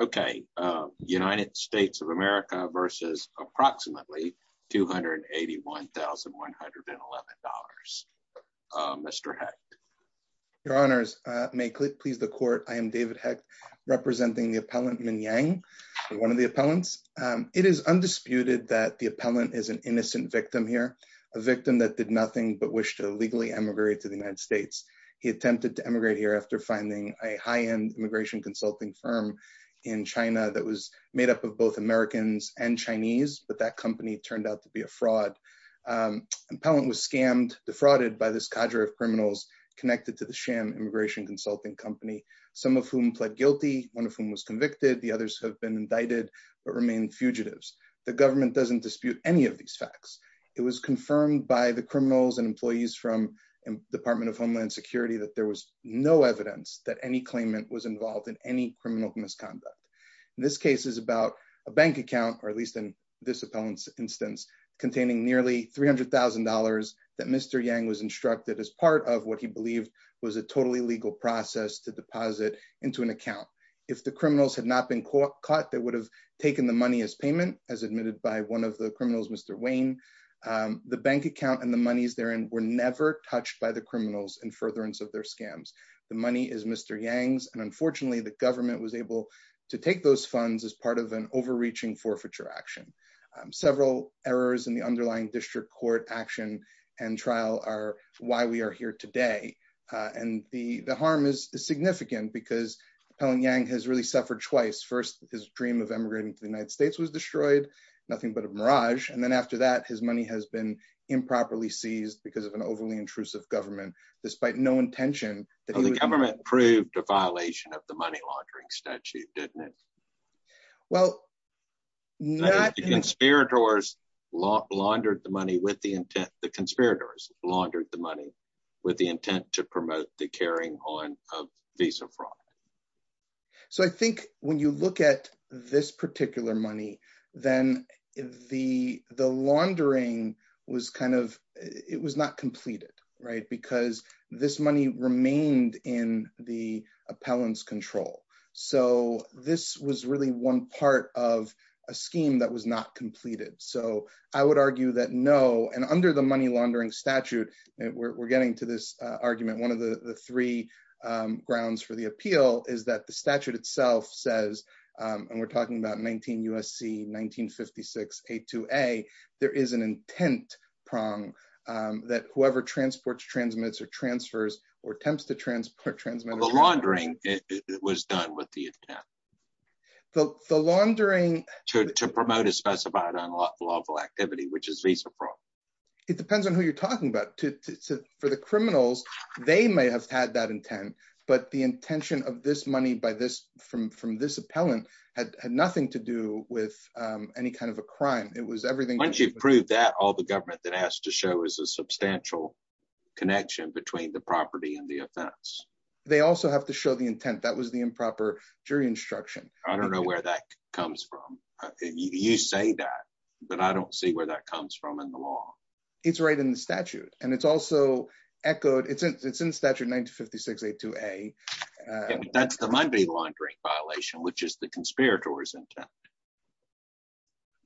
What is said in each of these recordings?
Okay. United States of America versus approximately $281,111.00. Mr. Hecht. Your Honors. May it please the Court, I am David Hecht, representing the appellant Min Yang, one of the appellants. It is undisputed that the appellant is an innocent victim here, a victim that did nothing but wish to illegally emigrate to the United States. He attempted to emigrate here after finding a high-end immigration consulting firm in China that was made up of both Americans and Chinese, but that company turned out to be a fraud. Appellant was scammed, defrauded by this cadre of criminals connected to the sham immigration consulting company, some of whom pled guilty, one of whom was convicted, the others have been indicted, but remain fugitives. The government doesn't dispute any of these facts. It was confirmed by the criminals and employees from Department of Homeland Security that there was no evidence that any claimant was involved in any criminal misconduct. This case is about a bank account, or at least in this appellant's instance, containing nearly $300,000 that Mr. Yang was instructed as part of what he believed was a totally legal process to deposit into an account. If the criminals had not been caught, they would have taken the money as payment, as admitted by one of the criminals, Mr. Wayne. The bank account and the monies therein were never touched by the criminals in furtherance of their scams. The money is Mr. Yang's, and unfortunately, the government was able to take those funds as part of an overreaching forfeiture action. Several errors in the underlying district court action and trial are why we are here today. The harm is significant because Appellant Yang has really suffered twice. First, his dream of emigrating to the United States has been improperly seized because of an overly intrusive government. The government proved a violation of the money laundering statute, didn't it? The conspirators laundered the money with the intent to promote the carrying on of visa fraud. When you look at this particular then the laundering was not completed because this money remained in the appellant's control. This was really one part of a scheme that was not completed. I would argue that no, and under the money laundering statute, we're getting to this argument. One of the three appeal is that the statute itself says, and we're talking about 19 U.S.C., 1956, A2A, there is an intent prong that whoever transports, transmits, or transfers or attempts to transport transmits. The laundering was done with the intent to promote a specified unlawful activity, which is visa fraud. It depends on who you're talking about. For the criminals, they may have had that intent, but the intention of this money from this appellant had nothing to do with any kind of a crime. Once you've proved that, all the government that has to show is a substantial connection between the property and the offense. They also have to show the intent. That was the improper jury instruction. I don't know where that comes from. You say that, but I don't see where that comes from in the law. It's right in the statute. It's also echoed. It's in statute 1956, A2A. That's the money laundering violation, which is the conspirator's intent.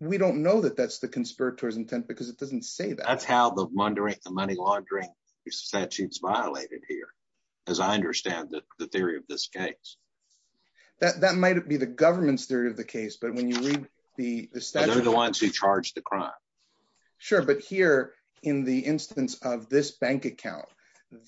We don't know that that's the conspirator's intent because it doesn't say that. That's how the money laundering statute is violated here, as I understand the theory of this case. That might be the government's theory of the case, but when you read the statute- They're the ones who charged the crime. Sure, but here in the instance of this bank account,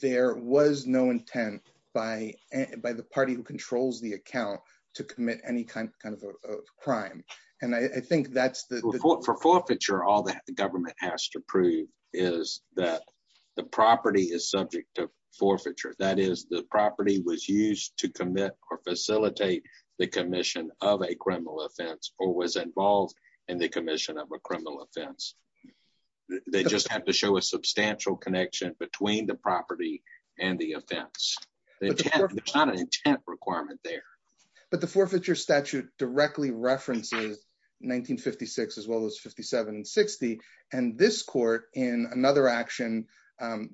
there was no intent by the party who controls the account to commit any kind of a crime. I think that's the- For forfeiture, all the government has to prove is that the property is subject to forfeiture. That is, the property was used to commit or facilitate the commission of a criminal offense or was involved in the commission of a criminal offense. They just have to show a substantial connection between the property and the offense. There's not an intent requirement there. The forfeiture statute directly references 1956, as well as 57 and 60, and this court in another language, to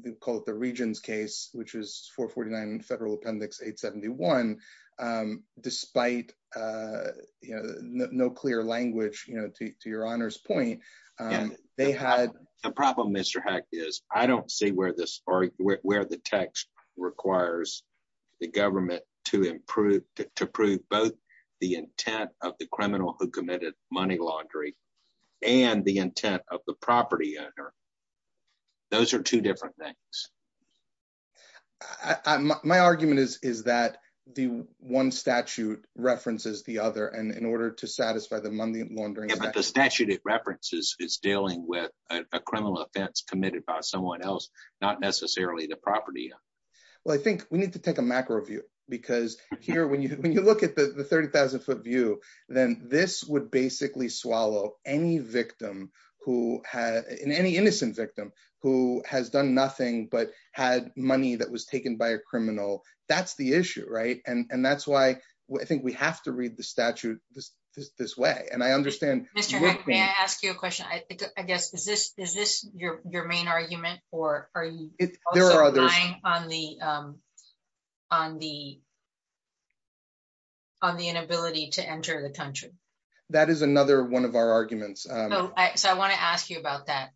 your honor's point, they had- The problem, Mr. Heck, is I don't see where the text requires the government to prove both the intent of the criminal who committed money laundering and the intent of the property owner. Those are two different things. I, my argument is is that the one statute references the other and in order to satisfy the money laundering- Yeah, but the statute it references is dealing with a criminal offense committed by someone else, not necessarily the property. Well, I think we need to take a macro view because here, when you when you look at the 30,000 foot view, then this would basically any victim who had, any innocent victim who has done nothing but had money that was taken by a criminal. That's the issue, right? And that's why I think we have to read the statute this way. And I understand- Mr. Heck, may I ask you a question? I guess, is this your main argument or are you also relying on the inability to enter the country? That is another one of our arguments. So I want to ask you about that.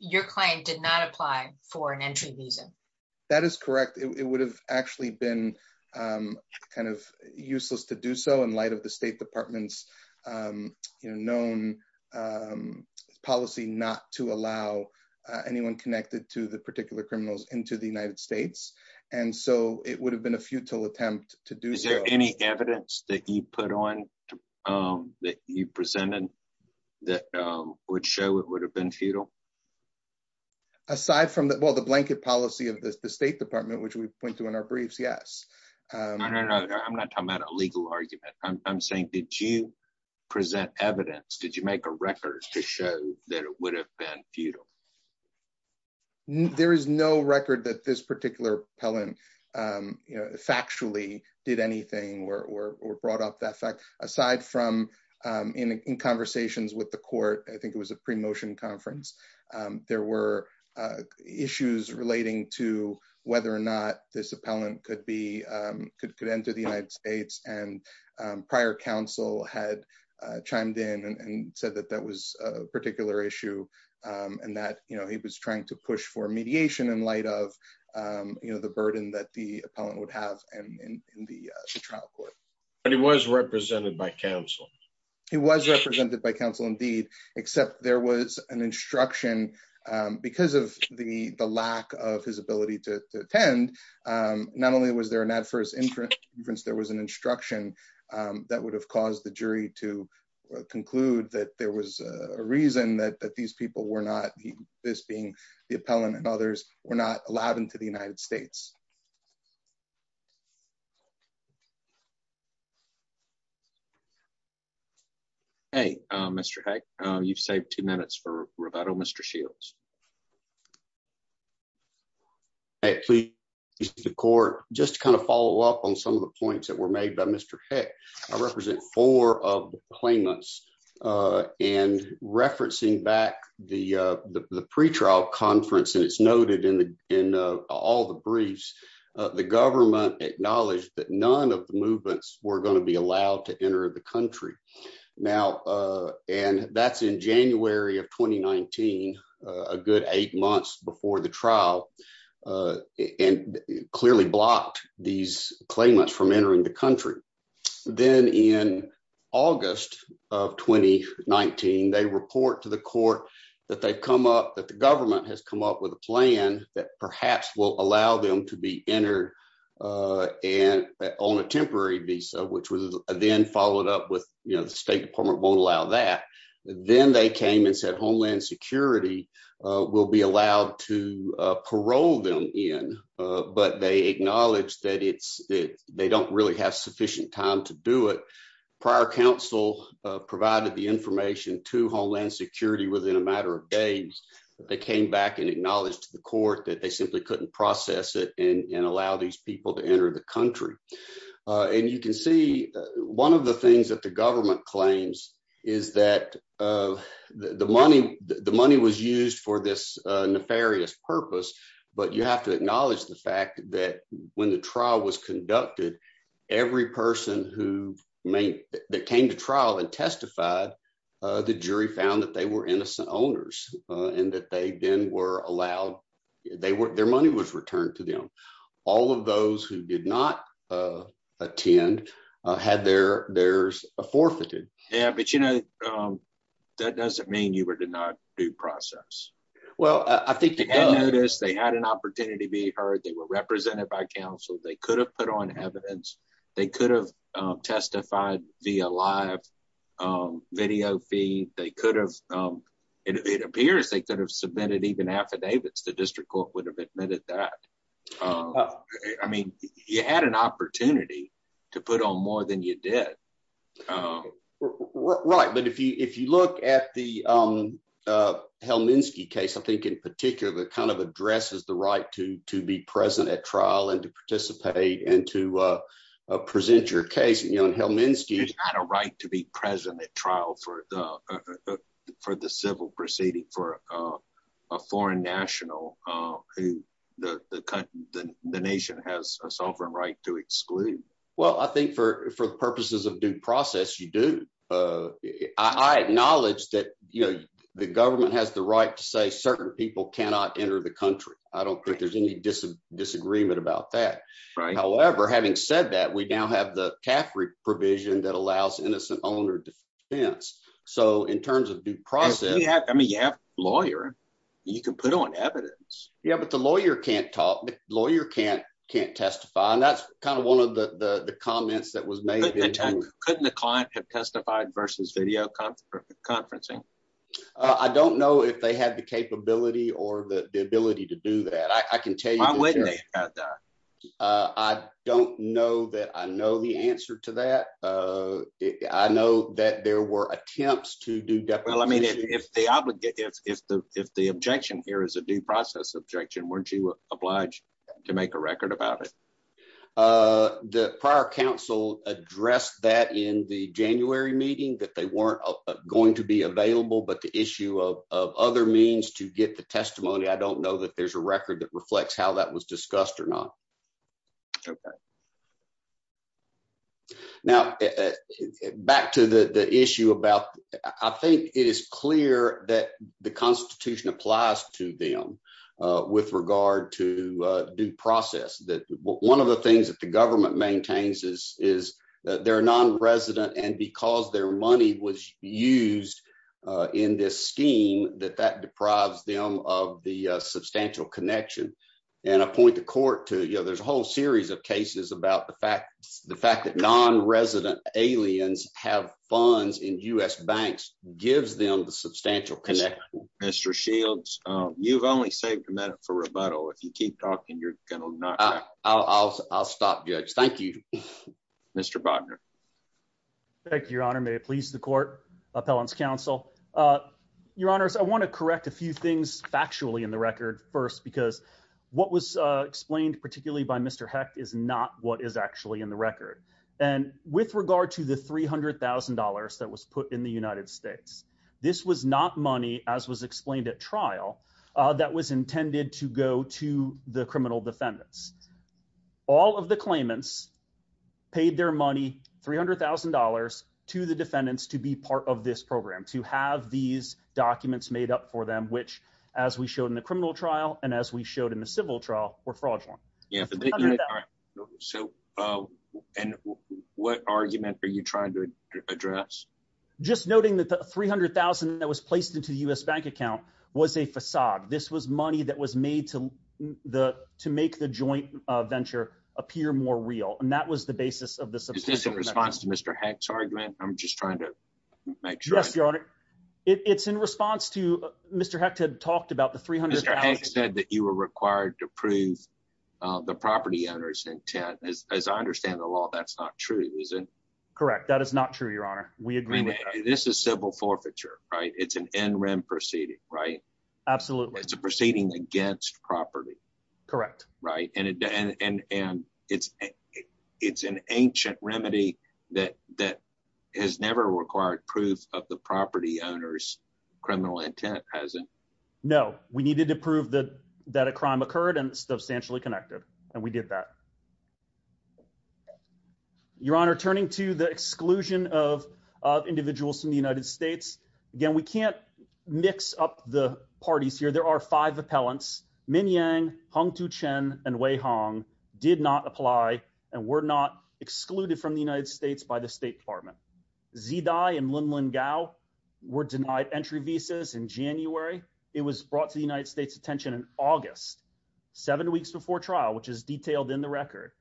Your claim did not apply for an entry visa. That is correct. It would have actually been kind of useless to do so in light of the State Department's known policy not to allow anyone connected to the particular criminals into the United States. And so it would have been a futile attempt to do so. Is there any evidence that you put on, that you presented, that would show it would have been futile? Aside from the, well, the blanket policy of the State Department, which we point to in our briefs, yes. No, no, no. I'm not talking about a legal argument. I'm saying, did you present evidence? Did you make a record to show that it would have been futile? There is no record that this particular appellant factually did anything or brought up that fact. Aside from in conversations with the court, I think it was a pre-motion conference, there were issues relating to whether or not this appellant could enter the United States. And prior counsel had chimed in and said that that was a particular issue and that he was trying to push for mediation in light of the burden that the appellant would have in the trial court. But he was represented by counsel. He was represented by counsel, indeed, except there was an instruction because of the lack of his ability to attend. Not only was there an adverse inference, there was an instruction that would have caused the jury to conclude that there was a reason that these people were not being, the appellant and others, were not allowed into the United States. Hey, Mr. Heck, you've saved two minutes for rebuttal, Mr. Shields. Hey, please, Mr. Court, just to kind of follow up on some of the points that were made by Mr. Heck, I represent four of the claimants. And referencing back the pre-trial conference, and it's noted in all the briefs, the government acknowledged that none of the movements were going to be allowed to enter the country. Now, and that's in January of 2019, a good eight months before the trial, and clearly blocked these claimants from entering the country. Then in August of 2019, they report to the court that they've come up, that the government has come up with a plan that perhaps will allow them to be entered on a temporary visa, which was then followed up with, you know, the State Department won't allow that. Then they came and said Homeland Security will be allowed to parole them in, but they acknowledged that it's, that they don't really have sufficient time to do it. Prior counsel provided the information to Homeland Security within a matter of days. They came back and acknowledged to the court that they simply couldn't process it and allow these people to enter the country. And you can see, one of the money, the money was used for this nefarious purpose, but you have to acknowledge the fact that when the trial was conducted, every person who may, that came to trial and testified, the jury found that they were innocent owners, and that they then were allowed, they were, their money was returned to them. All of those who did not attend had their, their forfeited. Yeah, but you know, that doesn't mean you were denied due process. Well, I think they had noticed, they had an opportunity to be heard, they were represented by counsel, they could have put on evidence, they could have testified via live video feed, they could have, it appears they could have submitted even affidavits, the District Court would have submitted that. I mean, you had an opportunity to put on more than you did. Right, but if you, if you look at the Helminsky case, I think in particular, that kind of addresses the right to, to be present at trial and to participate and to present your case, you know, and Helminsky had a right to be present at trial for the, for the civil proceeding, for a foreign national who the, the country, the nation has a sovereign right to exclude. Well, I think for, for purposes of due process, you do. I acknowledge that, you know, the government has the right to say certain people cannot enter the country. I don't think there's any disagreement about that. However, having said that, we now have the provision that allows innocent owner defense. So in terms of due process, you have, I mean, you have lawyer, you can put on evidence. Yeah, but the lawyer can't talk, lawyer can't, can't testify. And that's kind of one of the, the comments that was made. Couldn't the client have testified versus video conferencing? I don't know if they had the capability or the ability to do that. I can tell you. I don't know that I know the answer to that. I know that there were attempts to do that. Well, I mean, if the, if the, if the, if the objection here is a due process objection, weren't you obliged to make a record about it? The prior council addressed that in the January meeting that they weren't going to be available, but the issue of, of other means to get the or not. Okay. Now back to the, the issue about, I think it is clear that the constitution applies to them with regard to due process. That one of the things that the government maintains is, is that they're non-resident and because their money was used in this scheme, that that deprives them of the substantial connection. And I point the court to, you know, there's a whole series of cases about the fact, the fact that non-resident aliens have funds in us banks gives them the substantial connection. Mr. Shields, you've only saved a minute for rebuttal. If you keep talking, you're going to knock. I'll, I'll, I'll stop judge. Thank you, Mr. Bogner. Thank you, your honor. May in the record first, because what was explained particularly by Mr. Hecht is not what is actually in the record. And with regard to the $300,000 that was put in the United States, this was not money as was explained at trial that was intended to go to the criminal defendants. All of the claimants paid their money, $300,000 to the defendants to be part of this program, to have these documents made up for them, which as we showed in the criminal trial, and as we showed in the civil trial were fraudulent. So, and what argument are you trying to address? Just noting that the $300,000 that was placed into the U.S. bank account was a facade. This was money that was made to the, to make the joint venture appear more real. And that was the basis of this. Is this It's in response to Mr. Hecht had talked about the $300,000. Mr. Hecht said that you were required to prove the property owner's intent. As I understand the law, that's not true, is it? Correct. That is not true, your honor. We agree with that. This is civil forfeiture, right? It's an NREM proceeding, right? Absolutely. It's a proceeding against property. Correct. Right. And, and, and it's, it's an ancient remedy that, that has never required proof of the property owner's criminal intent, has it? No, we needed to prove that, that a crime occurred and substantially connected. And we did that. Your honor, turning to the exclusion of individuals from the United States. Again, we can't mix up the parties here. There are five appellants, Min Yang, Hung Tu-Cheng, and Wei Hong did not apply and were not excluded from the United States by the State Department. Xi Dai and Linlin Gao were denied entry visas in January. It was brought to the United States attention in August, seven weeks before trial, which is detailed in the record.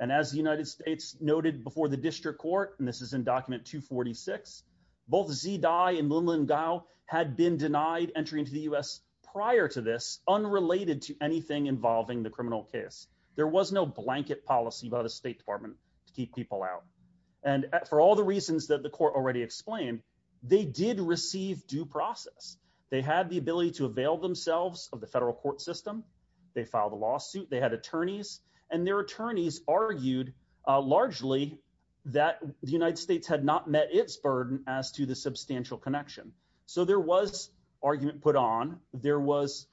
And as the United States noted before the district court, and this is in document 246, both Xi Dai and Linlin Gao had been denied entry into the U.S. prior to this, unrelated to anything involving the criminal case. There was no blanket policy by the State Department to keep people out. And for all the reasons that the court already explained, they did receive due process. They had the ability to avail themselves of the federal court system. They filed a lawsuit. They had as to the substantial connection. So there was argument put on, there was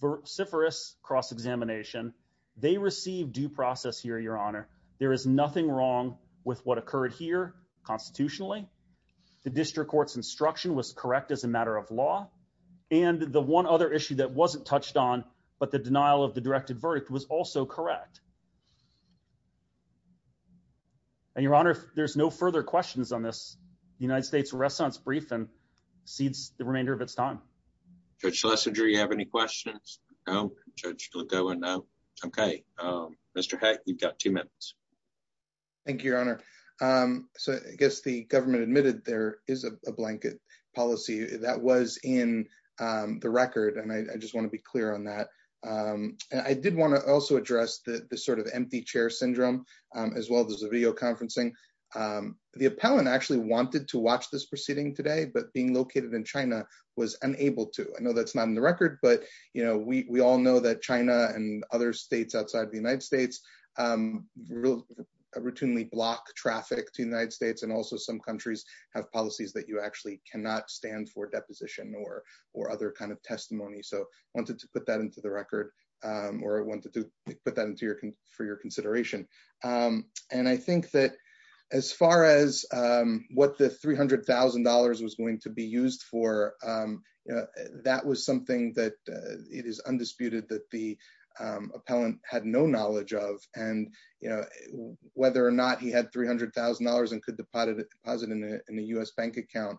vociferous cross-examination. They received due process here, your honor. There is nothing wrong with what occurred here constitutionally. The district court's instruction was correct as a matter of law. And the one other issue that wasn't touched on, but the denial of the directed and cedes the remainder of its time. Judge Schlesinger, you have any questions? No. Judge Lagoa, no. Okay. Mr. Heck, you've got two minutes. Thank you, your honor. So I guess the government admitted there is a blanket policy that was in the record. And I just want to be clear on that. And I did want to also address the sort of empty chair syndrome, as well as videoconferencing. The appellant actually wanted to watch this proceeding today, but being located in China was unable to. I know that's not in the record, but we all know that China and other states outside of the United States routinely block traffic to the United States. And also some countries have policies that you actually cannot stand for deposition or other kinds of testimony. So I wanted to put that into the record, or I wanted to put that into for your consideration. And I think that as far as what the $300,000 was going to be used for, that was something that it is undisputed that the appellant had no knowledge of. And whether or not he had $300,000 and could deposit it in a US bank account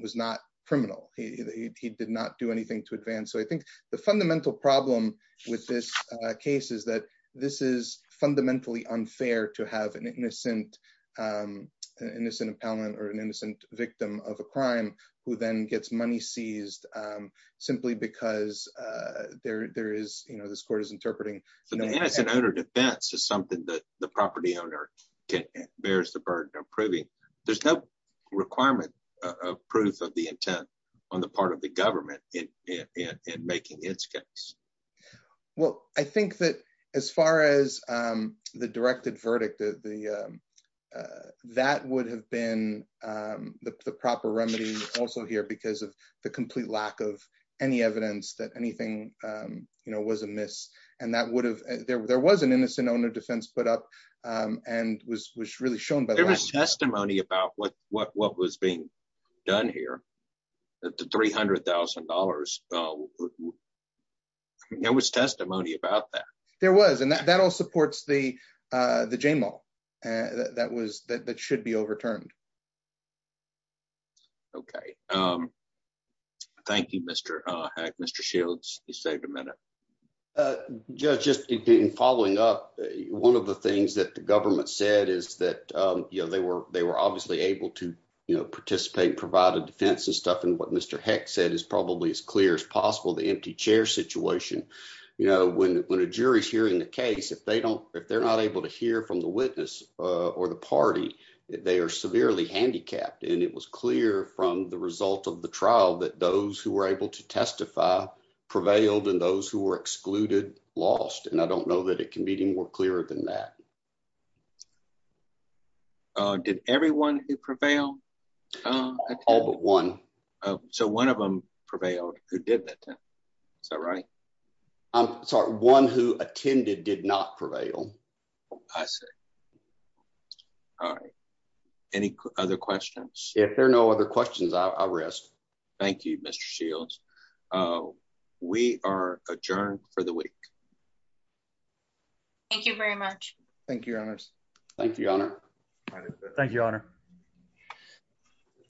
was not criminal. He did not do anything to advance. So I think the fundamental problem with this case is that this is fundamentally unfair to have an innocent appellant or an innocent victim of a crime who then gets money seized simply because this court is interpreting. So the innocent owner defense is something that the property owner bears the burden of proving. There's no requirement of proof of the intent on the part of the government in making its case. Well, I think that as far as the directed verdict, that would have been the proper remedy also here because of the complete lack of any evidence that anything was amiss. And that would have, there was an innocent owner defense put up and was really shown by the testimony about what was being done here, that the $300,000, there was testimony about that. There was, and that all supports the J-Mall that should be overturned. Okay. Thank you, Mr. Hack. Mr. Shields, you saved a minute. Just in following up, one of the things that the government said is that they were obviously able to participate and provide a defense and stuff. And what Mr. Heck said is probably as clear as possible, the empty chair situation. When a jury is hearing the case, if they're not able to hear from the witness or the party, they are severely handicapped. And it was clear from the result of the trial that those who were able to testify prevailed and those who were excluded lost. And I don't know that it can be any more clearer than that. Did everyone who prevailed? All but one. So one of them prevailed who did that. Is that right? I'm sorry. One who attended did not prevail. I see. All right. Any other questions? If there are no other questions, I'll rest. Thank you, Mr. Shields. We are adjourned for the week. Thank you very much. Thank you, Your Honors. Thank you, Your Honor. Thank you, Your Honor.